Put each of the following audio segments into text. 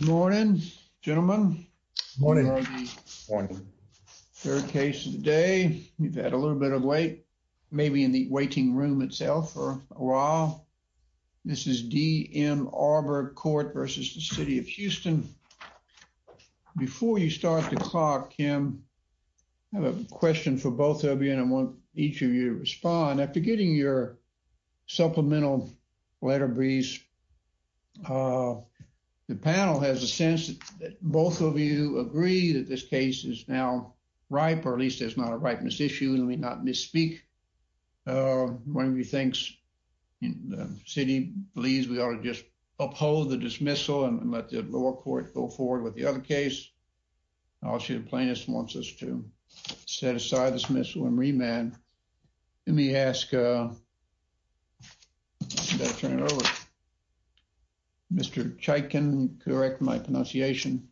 Good morning, gentlemen. Good morning. Third case of the day. We've had a little bit of wait, maybe in the waiting room itself for a while. This is D. M. Arbor Ct v. City of Houston. Before you start the clock, Kim, I have a question for both of you and I want each of you to respond. After getting your supplemental letter briefs, uh, the panel has a sense that both of you agree that this case is now ripe, or at least it's not a ripeness issue. Let me not misspeak. One of you thinks the city believes we ought to just uphold the dismissal and let the lower court go forward with the other case. I'll see the plaintiffs wants us to set aside the dismissal and remand. Let me ask, uh, Mr Chai can correct my pronunciation.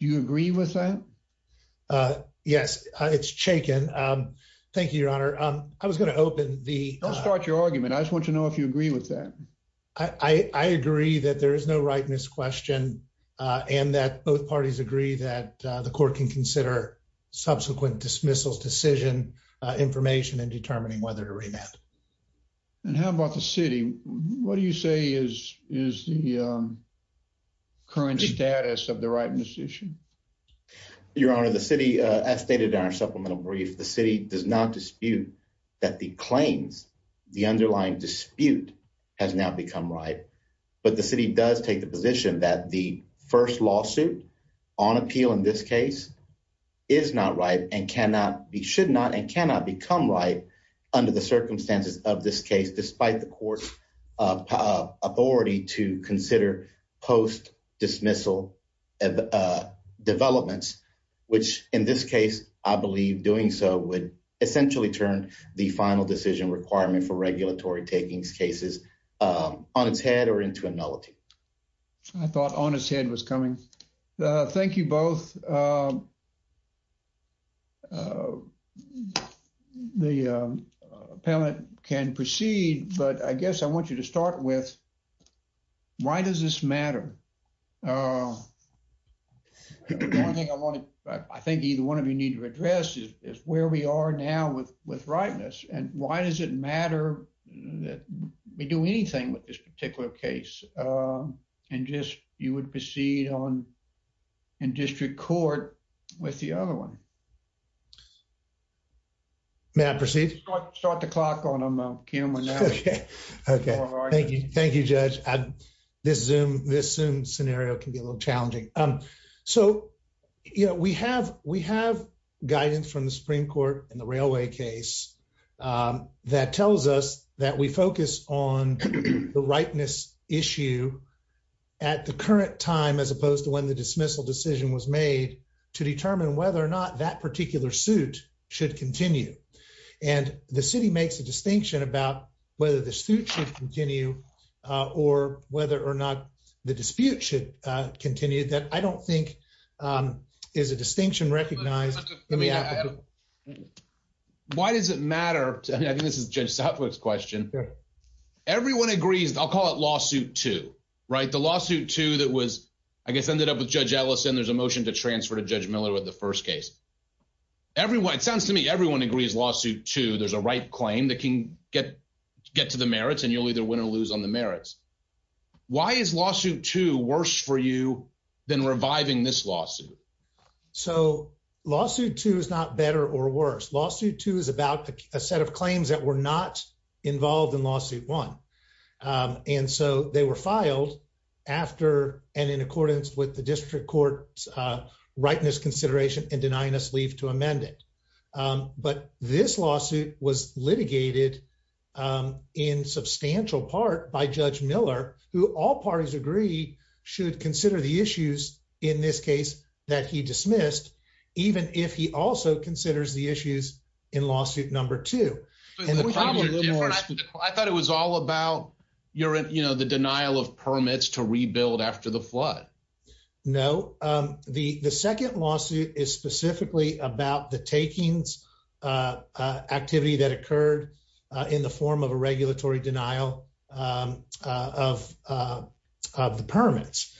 Do you agree with that? Yes, it's shaken. Thank you, Your Honor. I was gonna open the start your argument. I just want to know if you agree with that. I agree that there is no rightness question on that. Both parties agree that the court can consider subsequent dismissals, decision information and determining whether to remand. And how about the city? What do you say is is the current status of the rightness issue? Your Honor, the city, as stated in our supplemental brief, the city does not dispute that the claims the underlying dispute has now become right. But the city does take the that the first lawsuit on appeal in this case is not right and cannot be should not and cannot become right under the circumstances of this case, despite the court's authority to consider post dismissal developments, which in this case, I believe doing so would essentially turn the final decision requirement for regulatory takings cases on its head or into a nullity. I thought on his head was coming. Thank you both. The panel can proceed. But I guess I want you to start with. Why does this matter? I think either one of you need to address is where we are now with with rightness. And why does it you would proceed on in district court with the other one? May I proceed? Start the clock on a camera. Okay. Okay. Thank you. Thank you, Judge. This zoom, this zoom scenario can be a little challenging. So, you know, we have we have guidance from the Supreme Court and the railway case that tells us that we focus on the rightness issue at the current time, as opposed to when the dismissal decision was made to determine whether or not that particular suit should continue. And the city makes a distinction about whether the suit should continue or whether or not the dispute should continue that I don't think is a distinction recognized. I mean, why does it matter? I think this is just Southwest question. Everyone agrees I'll call it lawsuit to write the lawsuit to that was, I guess, ended up with Judge Allison, there's a motion to transfer to Judge Miller with the first case. Everyone, it sounds to me everyone agrees lawsuit to there's a right claim that can get get to the merits and you'll either win or lose on the merits. Why is lawsuit to worse for you than reviving this lawsuit? So lawsuit to is not better or worse lawsuit to is about a set of claims that were not involved in lawsuit one. And so they were filed after and in accordance with the district court rightness consideration and denying us leave to amend it. But this lawsuit was litigated in substantial part by Judge Miller, who all parties agree should consider the issues in this case that he dismissed, even if he also considers the issues in lawsuit number two. I thought it was all about your, you know, the denial of permits to rebuild after the flood. No, the second lawsuit is specifically about the takings activity that occurred in the form of a regulatory denial of the permits.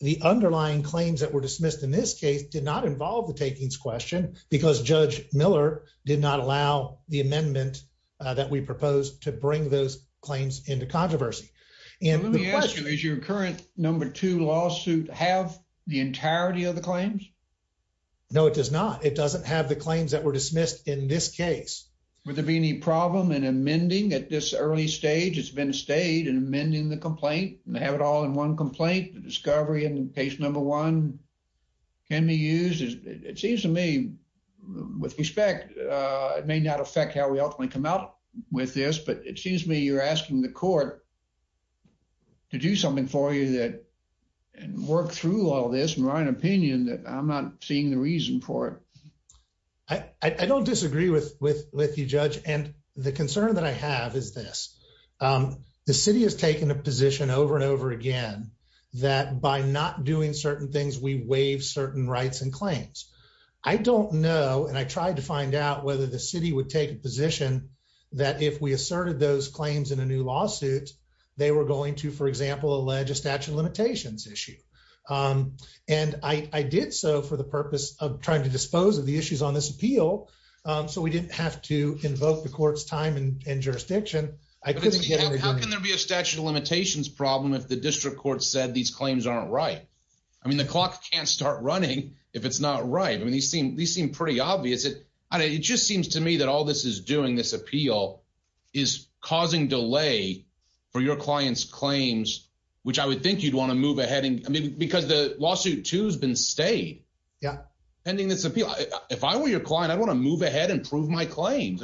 The underlying claims that were dismissed in this case did not involve the takings question because Judge Miller did not allow the amendment that we proposed to bring those claims into controversy. And let me ask you, is your current number two lawsuit have the entirety of the claims? No, it does not. It doesn't have the claims that were dismissed in this case. Would there be any problem in amending at this early stage? It's been stayed in amending the complaint. The discovery in case number one can be used. It seems to me, with respect, it may not affect how we ultimately come out with this, but it seems to me you're asking the court to do something for you that and work through all this and write an opinion that I'm not seeing the reason for it. I don't disagree with you, Judge, and the concern that I have is this. The city has taken a position over and over again that by not doing certain things, we waive certain rights and claims. I don't know, and I tried to find out whether the city would take a position that if we asserted those claims in a new lawsuit, they were going to, for example, allege a statute of limitations issue. And I did so for the purpose of trying to dispose of the claims. How can there be a statute of limitations problem if the district court said these claims aren't right? I mean, the clock can't start running if it's not right. These seem pretty obvious. It just seems to me that all this is doing, this appeal, is causing delay for your client's claims, which I would think you'd want to move ahead. I mean, because the lawsuit two has been stayed pending this appeal. If I were your client, I'd want to move ahead and prove my client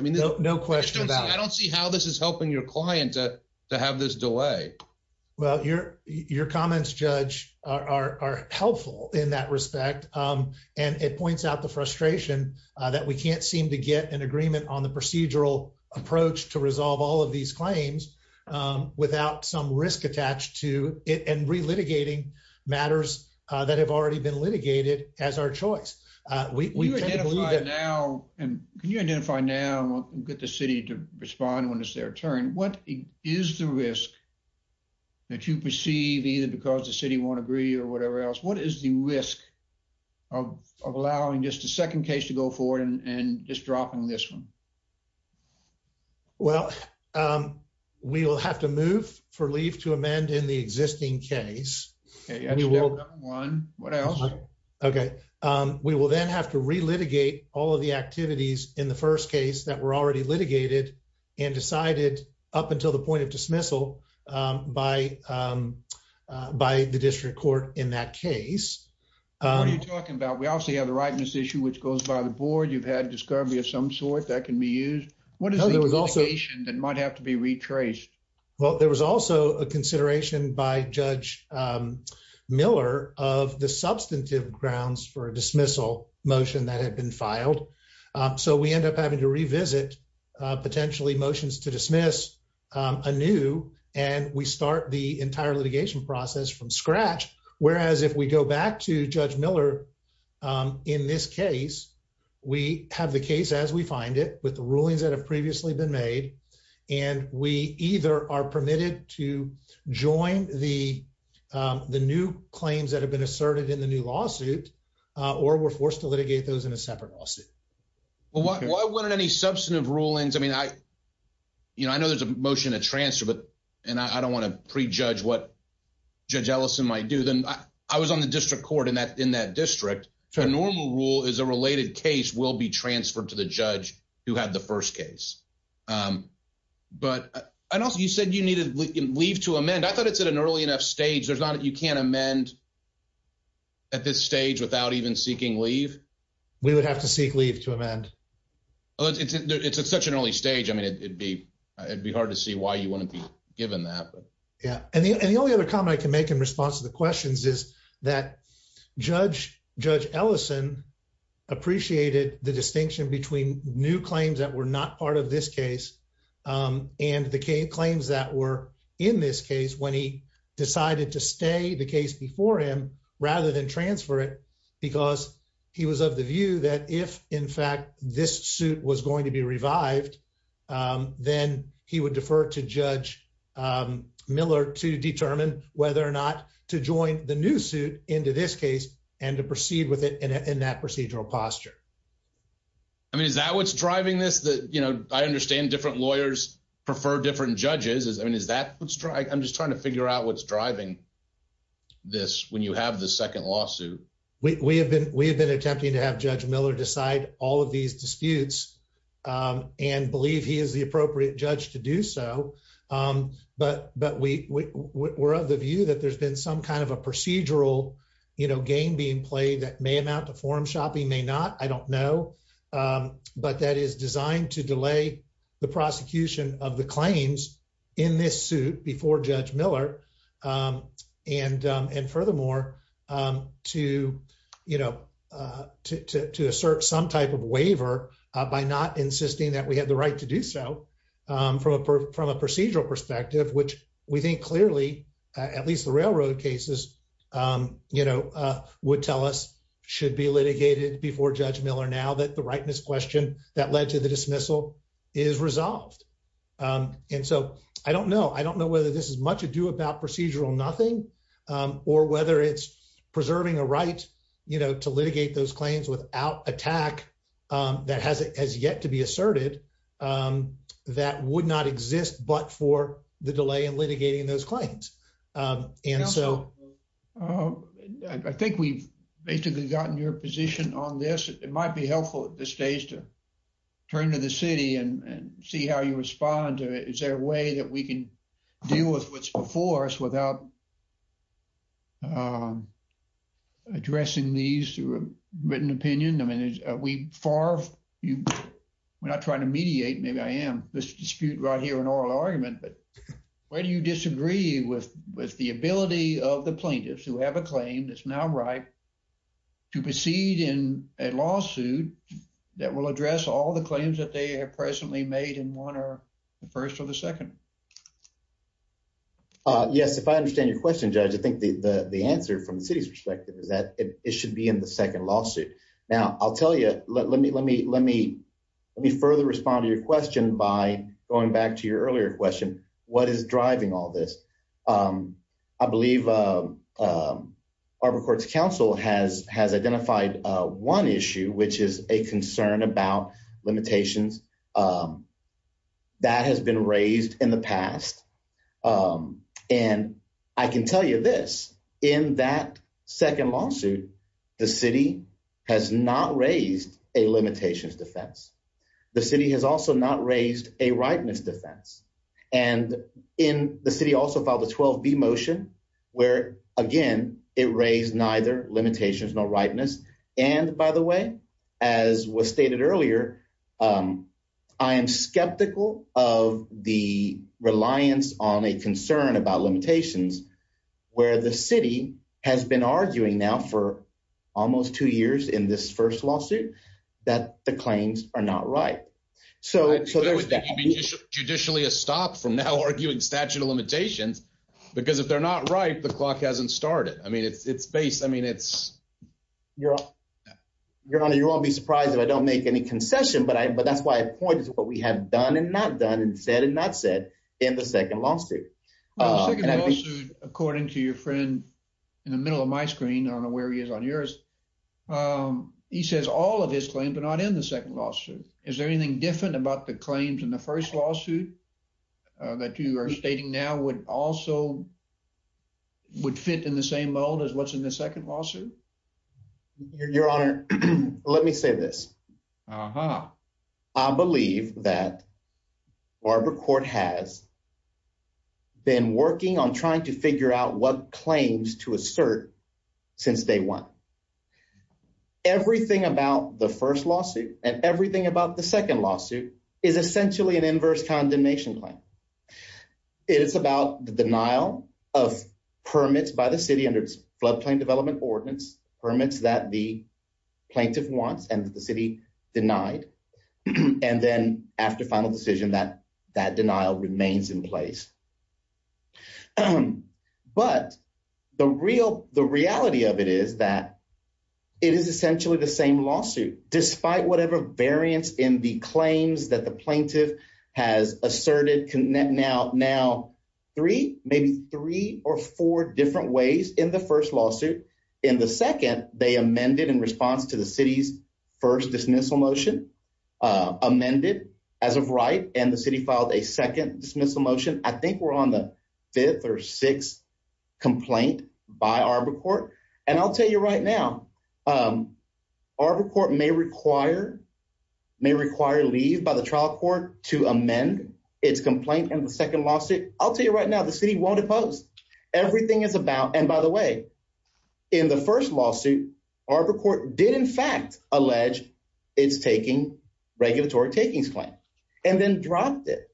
to have this delay. Well, your comments, Judge, are helpful in that respect. And it points out the frustration that we can't seem to get an agreement on the procedural approach to resolve all of these claims without some risk attached to it and relitigating matters that have already been litigated as our choice. Can you identify now and get the city to respond when it's their turn? What is the risk that you perceive either because the city won't agree or whatever else? What is the risk of allowing just a second case to go forward and just dropping this one? Well, we will have to move for leave to amend in the existing case. Okay. We will then have to relitigate all of the activities in the first case that were already litigated and decided up until the point of dismissal by the district court in that case. What are you talking about? We obviously have the rightness issue, which goes by the board. You've had discovery of some sort that can be used. What is the litigation that might have to be retraced? Well, there was also a consideration by Judge Miller of the substantive grounds for a potentially motions to dismiss a new and we start the entire litigation process from scratch. Whereas if we go back to Judge Miller in this case, we have the case as we find it with the rulings that have previously been made. And we either are permitted to join the new claims that have been asserted in the new lawsuit or we're forced to litigate those in a separate lawsuit. Well, why weren't any substantive rulings? I mean, I know there's a motion to transfer, but and I don't want to prejudge what Judge Ellison might do. Then I was on the district court in that district. A normal rule is a related case will be transferred to the judge who had the first case. And also you said you needed leave to amend. I thought it's at an early enough stage. You can't amend at this stage without even seeking leave. We would have to seek leave to amend. It's at such an early stage. I mean, it'd be hard to see why you wouldn't be given that. And the only other comment I can make in response to the questions is that Judge Ellison appreciated the distinction between new claims that were not part of this case and the claims that were in this case when he decided to stay the case before him because he was of the view that if in fact this suit was going to be revived, then he would defer to Judge Miller to determine whether or not to join the new suit into this case and to proceed with it in that procedural posture. I mean, is that what's driving this? You know, I understand different lawyers prefer different judges. I mean, is that what's driving? I'm just We have been attempting to have Judge Miller decide all of these disputes and believe he is the appropriate judge to do so. But we're of the view that there's been some kind of a procedural game being played that may amount to forum shopping, may not, I don't know. But that is designed to delay the prosecution of the claims in this suit before Judge Miller. And furthermore, to, you know, to assert some type of waiver by not insisting that we had the right to do so from a procedural perspective, which we think clearly, at least the railroad cases, you know, would tell us should be litigated before Judge Miller now that the rightness question that led to the dismissal is resolved. And so I don't know. I don't know whether this is much ado about procedural nothing, or whether it's preserving a right, you know, to litigate those claims without attack that has yet to be asserted that would not exist, but for the delay in litigating those claims. And so I think we've basically gotten your position on this, it might be helpful at this stage to turn to the city and see how you respond to it. Is there a way that we can deal with what's before us without addressing these through a written opinion? I mean, we far, we're not trying to mediate, maybe I am, this dispute right here in oral argument, but where do you disagree with the ability of the plaintiffs who have a claim that's now ripe to proceed in a lawsuit that will address all the claims that they have presently made in one or the first or the second? Yes, if I understand your question, Judge, I think the answer from the city's perspective is that it should be in the second lawsuit. Now, I'll tell you, let me further respond to your question by going back to your earlier question, what is driving all this? I believe Arbor Courts Council has identified one issue, which is a concern about limitations that has been raised in the past. And I can tell you this, in that second lawsuit, the city has not raised a limitations defense. The city has also not raised a ripeness defense. And the city also filed a 12B motion, where again, it raised neither limitations nor ripeness. And by the way, as was stated earlier, I am skeptical of the reliance on a concern about limitations, where the city has been arguing now for almost two years in this first lawsuit, that the claims are not ripe. So there's that. Could it be judicially a stop from now arguing statute of limitations? Because if they're not ripe, the clock hasn't started. I mean, it's based, I mean, it's... Your Honor, you won't be surprised if I don't make any concession, but that's why I point to what we have done and not done and said and not said in the second lawsuit. In the second lawsuit, according to your friend in the middle of my screen, I don't know where he is on yours, he says all of his claims are not in the second lawsuit. Is there anything different about the claims in the first lawsuit that you are stating now would also, would fit in the same mold as what's in the second lawsuit? Your Honor, let me say this. I believe that Barber Court has been working on trying to figure out what claims to assert since day one. Everything about the first lawsuit and everything about the second lawsuit is essentially an inverse condemnation claim. It is about the denial of permits by the city under its floodplain development ordinance, permits that the plaintiff wants and the city denied. And then after final decision, that denial remains in place. But the reality of it is that it is essentially the same lawsuit, despite whatever variance in the claims that the plaintiff has asserted now three, maybe three or four different ways in the first lawsuit. In the second, they amended in response to the city's first dismissal motion, amended as of right, and the city filed a second dismissal motion. I think we're on the fifth or sixth complaint by Arbor Court. And I'll tell you right now, Arbor Court may require, may require leave by the trial court to amend its complaint in the second lawsuit. I'll tell you right now, the city won't oppose. Everything is about, and by the way, in the first lawsuit, Arbor Court did in fact allege it's taking regulatory takings claim and then dropped it.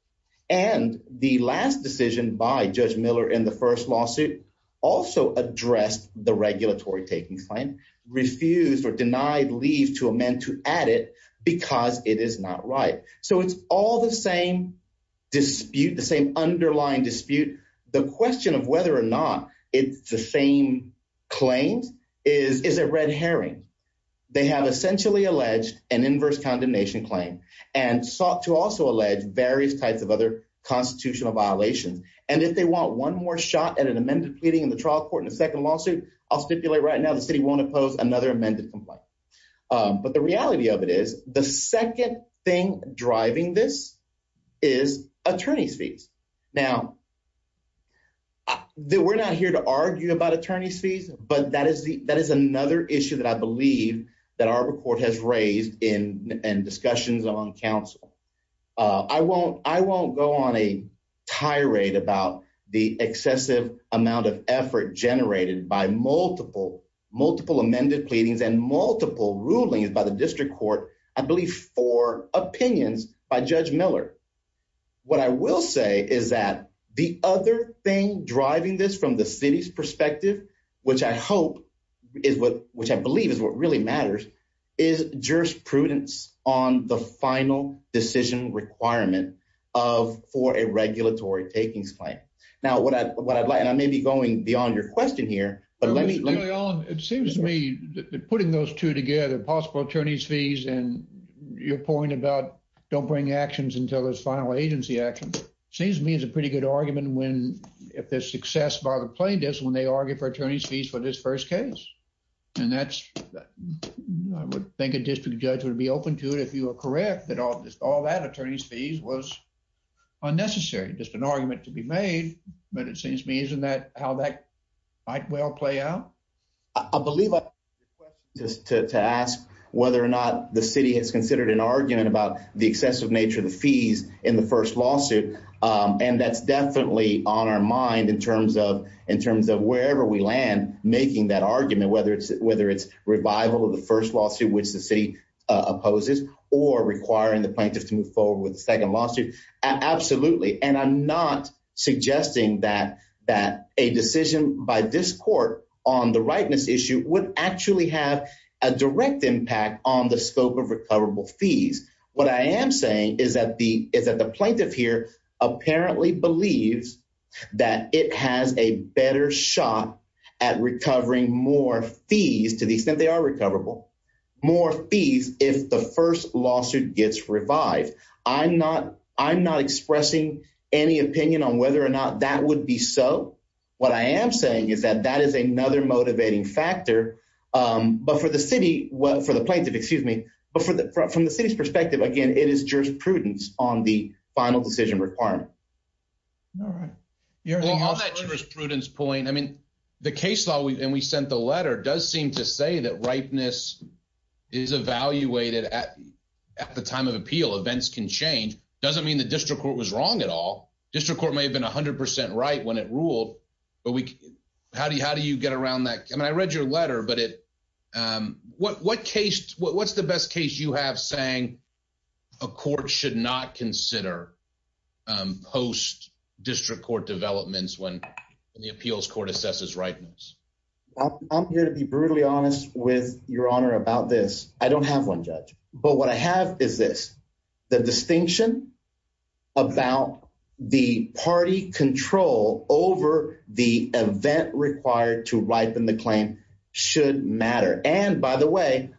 And the last decision by Judge Miller in the first lawsuit also addressed the regulatory taking claim, refused or denied leave to amend to add it because it is not right. So it's all the same dispute, the same underlying dispute. The question of whether or not it's the same claims is a red herring. They have essentially alleged an inverse condemnation claim and sought to also allege various types of other constitutional violations. And if they want one more shot at an I'll stipulate right now, the city won't oppose another amended complaint. But the reality of it is the second thing driving this is attorney's fees. Now, we're not here to argue about attorney's fees, but that is another issue that I believe that Arbor Court has raised in discussions among counsel. I won't go on a tirade about the excessive amount of effort generated by multiple, multiple amended pleadings and multiple rulings by the district court, I believe four opinions by Judge Miller. What I will say is that the other thing driving this from the city's perspective, which I hope is what, which I believe is what really matters is jurisprudence on the final decision requirement of for a regulatory takings claim. Now, what I, what I'd like, and I may be going beyond your question here, but let me, it seems to me that putting those two together, possible attorney's fees and your point about don't bring actions until there's final agency action, seems to me is a pretty good argument when if there's success by the plaintiffs, when they argue for attorney's fees for this first case. And that's, I would think a district judge would be open to it if you are correct, that all this, all that attorney's fees was unnecessary, just an argument to be made. But it seems to me, isn't that how that might well play out? I believe just to ask whether or not the city has considered an argument about the excessive nature of the fees in the first lawsuit. And that's definitely on our mind in terms of, in terms of wherever we land, making that argument, whether it's, whether it's revival of the first lawsuit, which the city opposes or requiring the plaintiffs to move forward with second lawsuit. Absolutely. And I'm not suggesting that, that a decision by this court on the rightness issue would actually have a direct impact on the scope of recoverable fees. What I am saying is that the, is that the plaintiff here apparently believes that it has a better shot at recovering more fees to the extent they are recoverable, more fees if the first lawsuit gets revived. I'm not, I'm not expressing any opinion on whether or not that would be so. What I am saying is that that is another motivating factor. But for the city, well, for the plaintiff, excuse me, but for the, from the city's perspective, again, it is jurisprudence on the final decision requirement. All right. Well, on that jurisprudence point, I mean, the case law, and we sent the letter, does seem to say that ripeness is evaluated at, at the time of appeal. Events can change. Doesn't mean the district court was wrong at all. District court may have been 100% right when it ruled, but we, how do you, how do you get around that? I mean, I read your letter, but it, what, what case, what's the best case you have saying a court should not I'm here to be brutally honest with your honor about this. I don't have one judge, but what I have is this, the distinction about the party control over the event required to ripen the claim should matter. And by the way,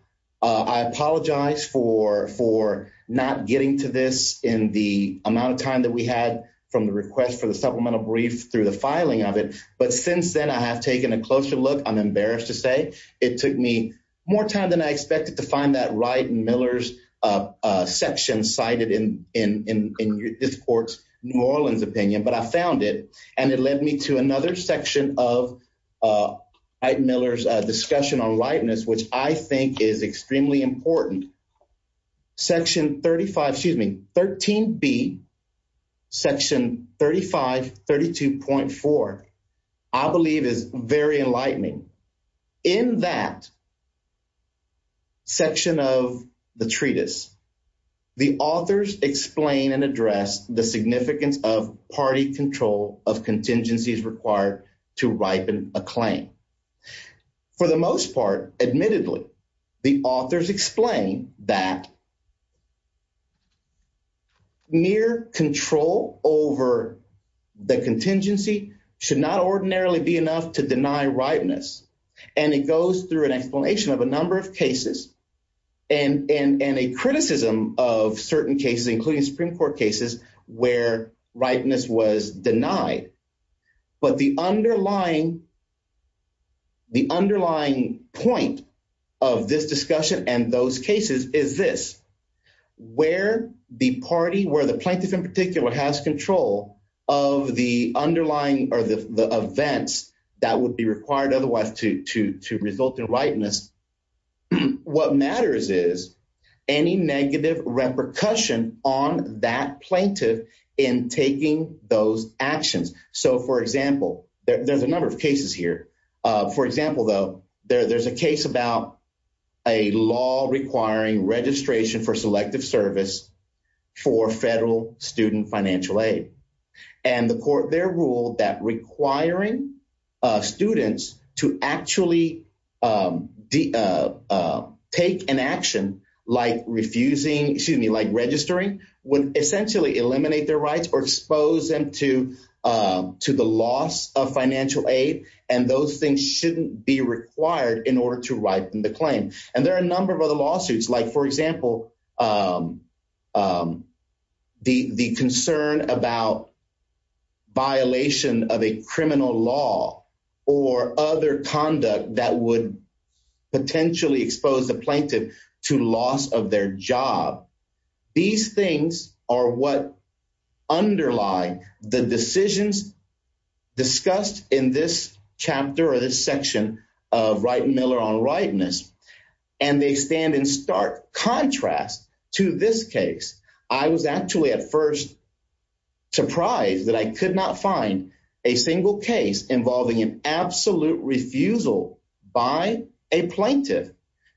I apologize for, for not getting to this in the amount of time that we had from the request for the supplemental brief through the filing of it. But since then, I have taken a closer look. I'm embarrassed to say it took me more time than I expected to find that right. And Miller's section cited in, in, in this court's New Orleans opinion, but I found it and it led me to another section of Miller's discussion on ripeness, which I think is extremely important section 35, excuse me, 13 B section 35, 32.4, I believe is very enlightening in that section of the treatise, the authors explain and address the significance of party control of contingencies required to ripen a claim for the most part, admittedly, the authors explain that near control over the contingency should not ordinarily be enough to deny ripeness. And it goes through an explanation of a number of cases and, and, and a criticism of certain cases, including Supreme court cases where ripeness was denied, but the underlying, the underlying point of this discussion and those cases is this, where the party, where the plaintiff in particular has control of the underlying or the events that would be required otherwise to, to, to result in ripeness. What matters is any negative repercussion on that here. For example, though, there, there's a case about a law requiring registration for selective service for federal student financial aid and the court, their rule that requiring students to actually take an action like refusing, excuse me, like registering would essentially eliminate their rights or expose them to to the loss of financial aid. And those things shouldn't be required in order to write in the claim. And there are a number of other lawsuits, like for example, the, the concern about violation of a criminal law or other conduct that would underlie the decisions discussed in this chapter or this section of right Miller on ripeness. And they stand in stark contrast to this case. I was actually at first surprised that I could not find a single case involving an absolute refusal by a plaintiff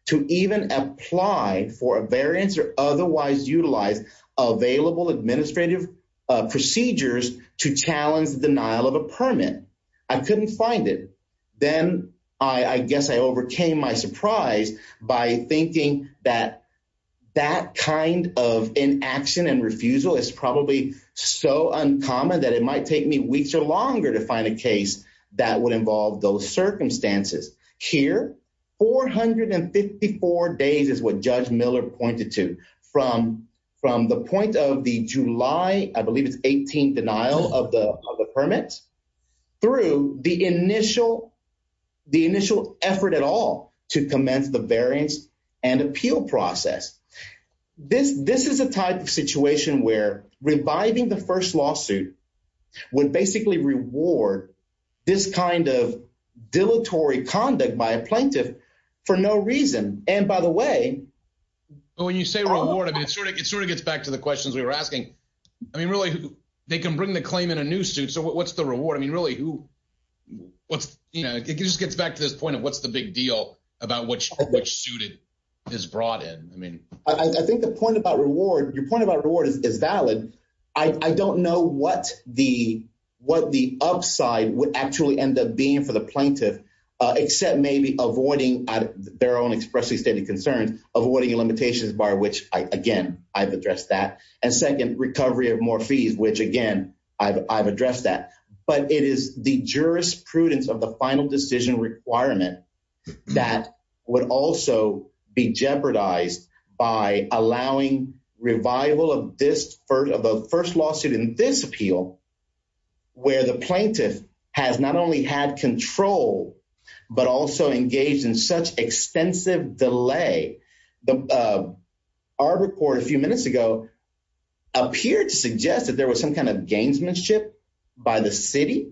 to even apply for a variance or otherwise utilize available administrative procedures to challenge the denial of a permit. I couldn't find it. Then I guess I overcame my surprise by thinking that that kind of in action and refusal is probably so uncommon that it might take me weeks or longer to find a case that would from the point of the July, I believe it's 18th denial of the permits through the initial, the initial effort at all to commence the variance and appeal process. This, this is a type of situation where reviving the first lawsuit would basically reward this kind of dilatory conduct by a plaintiff for no reason. And by the way, when you say reward, I mean, it sort of, it sort of gets back to the questions we were asking. I mean, really they can bring the claim in a new suit. So what's the reward. I mean, really who what's, you know, it just gets back to this point of what's the big deal about which, which suited is brought in. I mean, I think the point about reward, your point about reward is valid. I don't know what the, what the upside would actually end up being for the plaintiff, except maybe avoiding their own expressly stated concerns of avoiding limitations bar, which again, I've addressed that. And second recovery of more fees, which again, I've, I've addressed that, but it is the jurisprudence of the final decision requirement that would also be jeopardized by allowing revival of this first of the first lawsuit in this appeal, where the plaintiff has not only had control, but also engaged in such extensive delay. The Arbor court a few minutes ago appeared to suggest that there was some kind of gamesmanship by the city.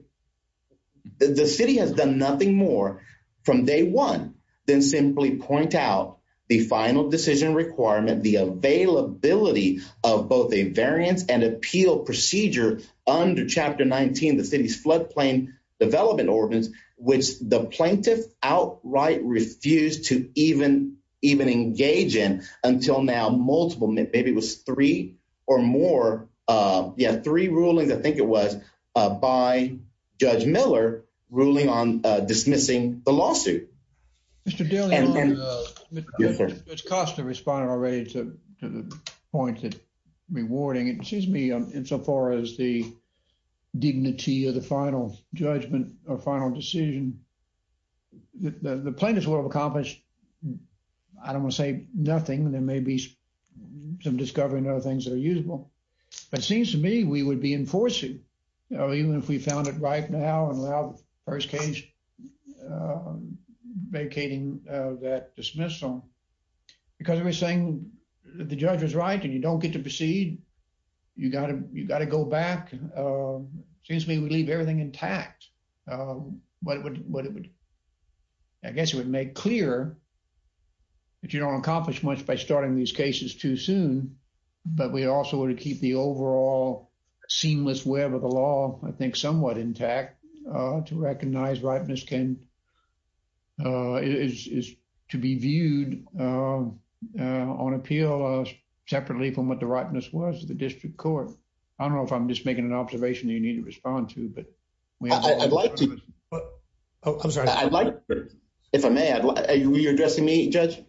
The city has done nothing more from day one, then simply point out the final decision requirement, the availability of both a variance and appeal procedure under chapter 19, the city's floodplain development ordinance, which the plaintiff outright refused to even, even engage in until now multiple maybe it was three or more. Yeah. Three rulings. I think it was by judge Miller ruling on dismissing the lawsuit. Mr. Dillian, Mr. Costa responded already to the point that rewarding, it seems to me insofar as the dignity of the final judgment or final decision, the plaintiff will have accomplished. I don't want to say nothing. There may be some discovery and other things that are usable, but it seems to me we would be enforcing, even if we found it right now and allow the first case vacating that dismissal, because we were saying that the judge was right and you don't get to proceed. You got to, you got to go back. It seems to me we leave everything intact. What it would, I guess it would make clear that you don't accomplish much by starting these cases too soon, but we also want to keep the overall seamless web of the law. I think somewhat intact to recognize rightness can, is to be viewed on appeal separately from what the rightness was to the district court. I don't know if I'm just making an observation that you need to respond to, but I'd like to, I'm sorry. I'd like to, if I may, you're addressing me judge?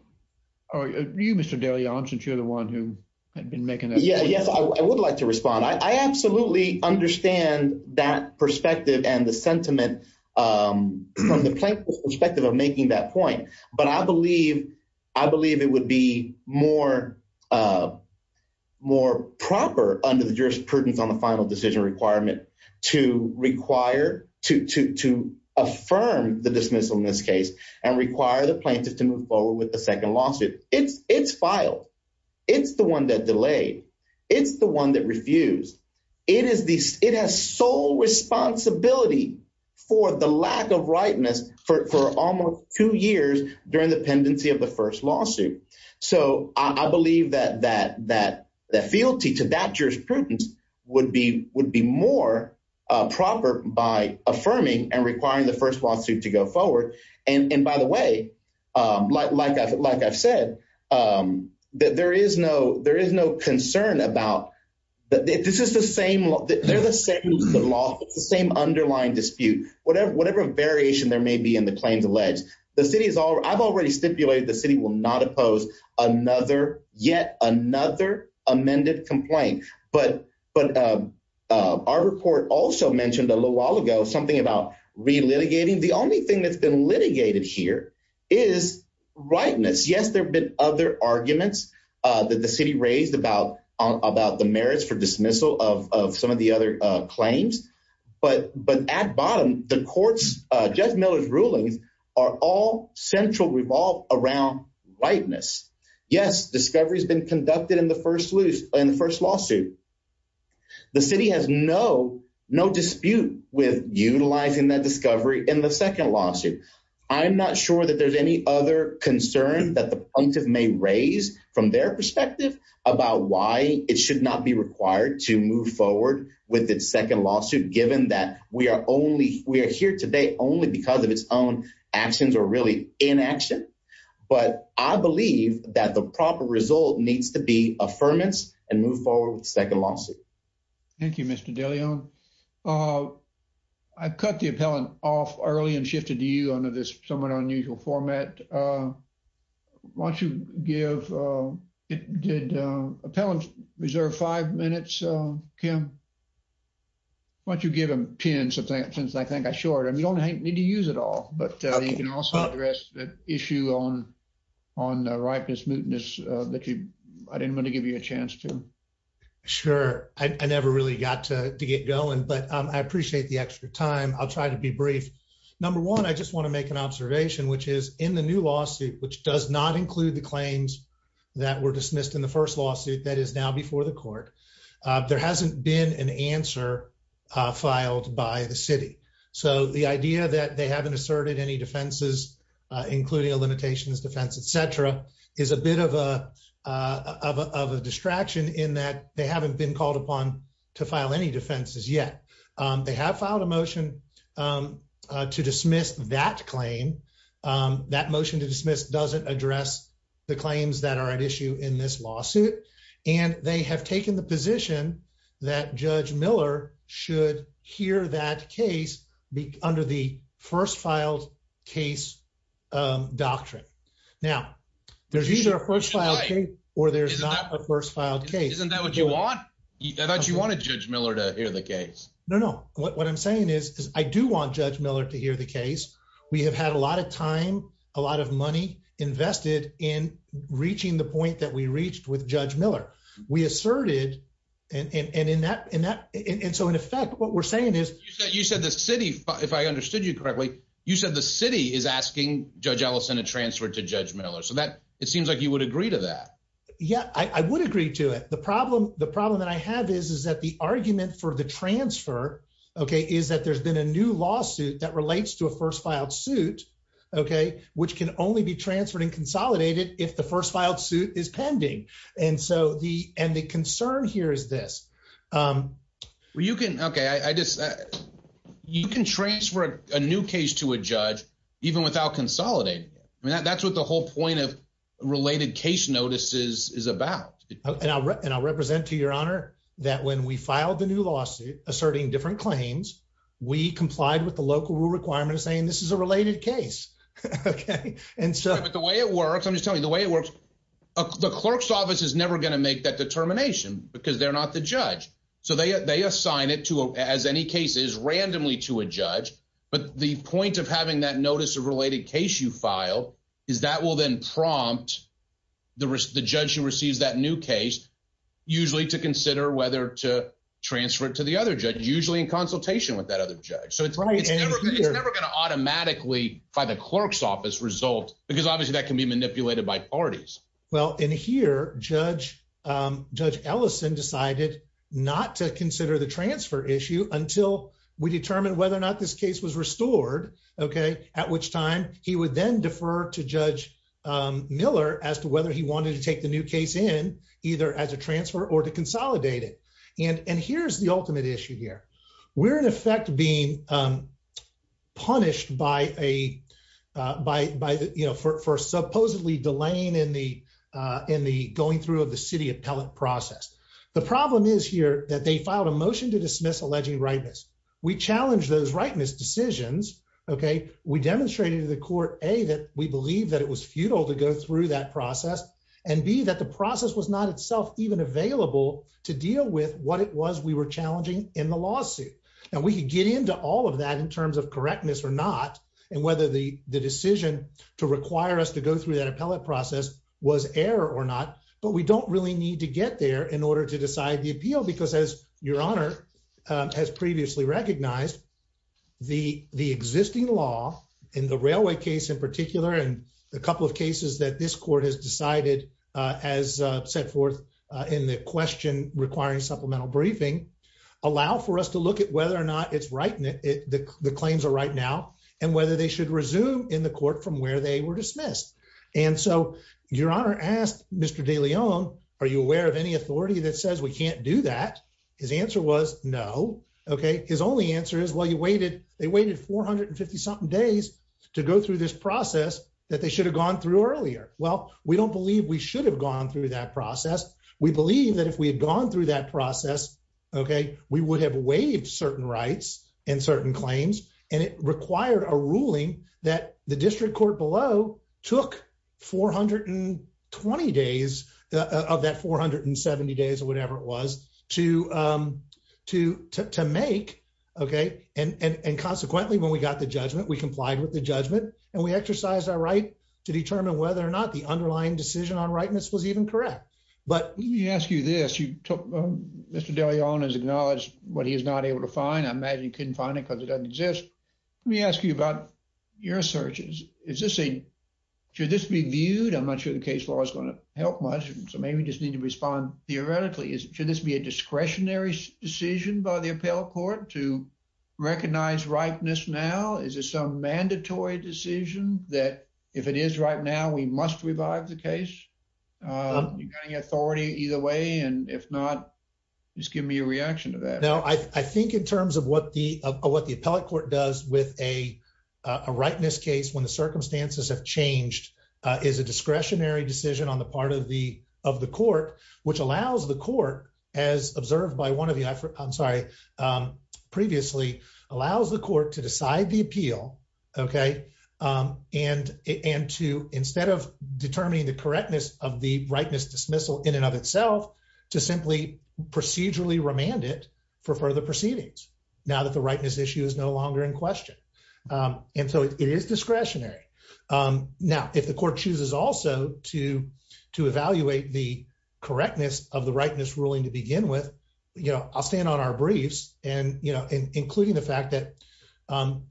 Or you, Mr. De Leon, since you're the one who had been making that. Yeah, yes, I would like to respond. I absolutely understand that perspective and the sentiment from the plaintiff's perspective of making that point, but I believe it would be more proper under the jurisprudence on the final decision requirement to require, to affirm the dismissal in this case and require the plaintiff to move forward with the second lawsuit. It's filed. It's the one that delayed. It's the one that refused. It has sole responsibility for the lack of rightness for almost two years during the pendency of the first lawsuit. So I believe that the fealty to that jurisprudence would be more proper by affirming and requiring the first lawsuit to go forward. And by the way, like I've said, that there is no, there is no concern about that. This is the same. They're the same, the law, the same underlying dispute, whatever, whatever variation there may be in the claims alleged the city is all I've already stipulated. The city will not oppose another yet another amended complaint. But, but our report also mentioned a little while ago, something about relitigating. The only thing that's been litigated here is rightness. Yes, there've been other arguments that the city raised about, about the merits for dismissal of, of some of the other claims, but, but at bottom, the courts, Judge Miller's rulings are all central revolve around rightness. Yes. Discovery has been conducted in the first loose in the first lawsuit. The city has no, no dispute with utilizing that discovery in the second lawsuit. I'm not sure that there's any other concern that the plaintiff may raise from their perspective about why it should not be required to move forward with its second lawsuit, given that we are only, we are here today only because of its own absence or really inaction. But I believe that the proper result needs to be affirmance and move forward with the second lawsuit. Thank you, Mr. Deleon. I've cut the appellant off early and shifted to you under this somewhat I think I short him. You don't need to use it all, but you can also address the issue on, on the rightness, mootness that you, I didn't want to give you a chance to. Sure. I never really got to get going, but I appreciate the extra time. I'll try to be brief. Number one, I just want to make an observation, which is in the new lawsuit, which does not include the claims that were dismissed in the first lawsuit that is now before the court. There hasn't been an answer filed by the city. So the idea that they haven't asserted any defenses, including a limitations defense, et cetera, is a bit of a, of a distraction in that they haven't been called upon to file any defenses yet. They have filed a motion to dismiss that claim. That motion to dismiss doesn't address the claims that are at issue in this lawsuit. And they have taken the position that judge Miller should hear that case be under the first filed case doctrine. Now there's either a first file or there's not a first filed case. Isn't that what you want? I thought you wanted judge Miller to hear the case. No, no. What I'm saying is I do want judge Miller to hear the case. We have had a lot of time, a lot of money invested in reaching the point that we reached with judge Miller. We asserted. And, and, and in that, in that, and so in effect, what we're saying is you said the city, if I understood you correctly, you said the city is asking judge Ellison and transferred to judge Miller. So that it seems like you would agree to that. Yeah, I would agree to it. The problem, the problem that I have is, is that the argument for the transfer, okay. Is that there's been a new lawsuit that relates to a first filed suit. Okay. Which can only be transferred and consolidated if the first filed suit is pending. And so the, and the concern here is this. Well, you can, okay. I just, you can transfer a new case to a judge even without consolidating it. I mean, that's what the whole point of related case notices is about. And I'll represent to your honor that when we filed the new lawsuit asserting different claims, we complied with the local rule requirement of saying this is a related case. Okay. And so, but the way it works, I'm just telling you the way it works. The clerk's office is never going to make that determination because they're not the judge. So they, they assign it to as any cases randomly to a judge. But the point of having that notice of related case you filed is that will then prompt the risk, the judge who receives that new case. Usually to consider whether to transfer it to the other judge, usually in consultation with that other judge. So it's never going to automatically by the clerk's office result, because obviously that can be manipulated by parties. Well, in here, judge, judge Ellison decided not to consider the transfer issue until we determined whether or not this case was restored. Okay. At which time he would then defer to judge Miller as to whether he wanted to take new case in either as a transfer or to consolidate it. And, and here's the ultimate issue here. We're in effect being punished by a, by, by the, you know, for, for supposedly delaying in the, in the going through of the city appellate process. The problem is here that they filed a motion to dismiss alleging rightness. We challenged those rightness decisions. Okay. We demonstrated to the court, A, that we believe that it was futile to go through that process and B, that the process was not itself even available to deal with what it was we were challenging in the lawsuit. And we could get into all of that in terms of correctness or not. And whether the, the decision to require us to go through that appellate process was error or not, but we don't really need to get there in order to decide the appeal, because as your honor has previously recognized the, the existing law in the railway case in particular, and a couple of as set forth in the question requiring supplemental briefing, allow for us to look at whether or not it's right. The claims are right now and whether they should resume in the court from where they were dismissed. And so your honor asked Mr. De Leon, are you aware of any authority that says we can't do that? His answer was no. Okay. His only answer is, well, you waited, they waited 450 something days to go through this process that they should have gone through earlier. Well, we don't believe we should have gone through that process. We believe that if we had gone through that process, okay, we would have waived certain rights and certain claims. And it required a ruling that the district court below took 420 days of that 470 days or whatever it was to, to, to, to make. Okay. And, and, and consequently, when we got the judgment, we complied with the judgment and we exercise our right to determine whether or not the underlying decision on rightness was even correct. But let me ask you this, you took, Mr. De Leon has acknowledged what he is not able to find. I imagine you couldn't find it because it doesn't exist. Let me ask you about your searches. Is this a, should this be viewed? I'm not sure the case law is going to help much. So maybe we just need to respond theoretically. Should this be a mandatory decision that if it is right now, we must revive the case authority either way. And if not, just give me a reaction to that. I think in terms of what the, what the appellate court does with a, a rightness case, when the circumstances have changed is a discretionary decision on the part of the, of the court, which allows the court as observed by one of the, I'm sorry, previously allows the court to decide the appeal. Okay. And, and to, instead of determining the correctness of the rightness dismissal in and of itself, to simply procedurally remand it for further proceedings. Now that the rightness issue is no longer in question. And so it is discretionary. Now, if the court chooses also to, to evaluate the correctness of the rightness ruling to begin with, you know, I'll stand on our briefs and, you know, including the fact that, um,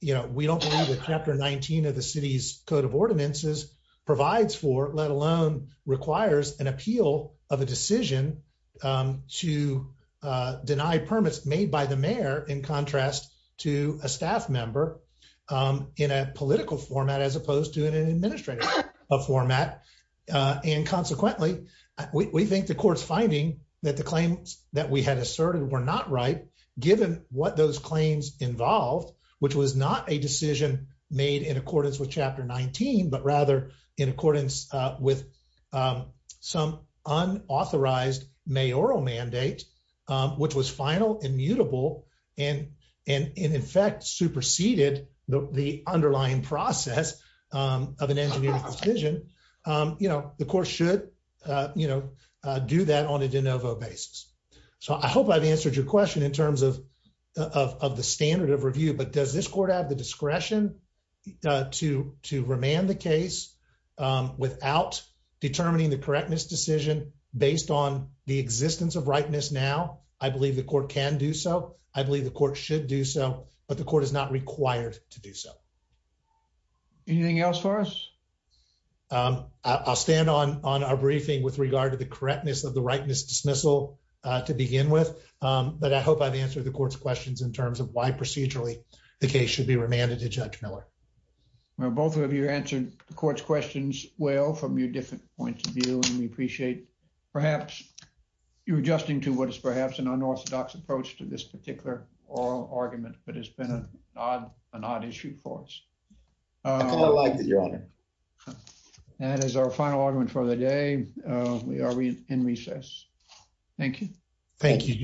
you know, we don't believe that chapter 19 of the city's code of ordinances provides for, let alone requires an appeal of a decision, um, to, uh, deny permits made by the mayor in contrast to a staff member, um, in a political format, as opposed to an administrator of format. Uh, and consequently we think the court's finding that the claims that we had asserted were not right, given what those claims involved, which was not a decision made in accordance with chapter 19, but rather in accordance, uh, with, um, some unauthorized mayoral mandate, um, which was final immutable and, and, and in fact, superseded the underlying process, um, of an engineered decision. Um, you know, the court should, uh, you know, uh, do that on a de novo basis. So I hope I've answered your question in terms of, of, of the standard of review, but does this court have the discretion, uh, to, to remand the case, um, without determining the correctness decision based on the existence of rightness now? I believe the court can do so. I believe the court should do so, but the court is not required to do so. Anything else for us? I'll stand on, on our briefing with regard to the correctness of the rightness dismissal, uh, to begin with. Um, but I hope I've answered the court's questions in terms of why procedurally the case should be remanded to judge Miller. Well, both of you answered the court's questions well from your different points of view, and we appreciate perhaps you adjusting to what is perhaps an unorthodox approach to this particular oral argument, but it's been an odd, an odd issue for us. I kind of liked it, Your Honor. That is our final argument for the day. Uh, we are in recess. Thank you. Thank you, judges.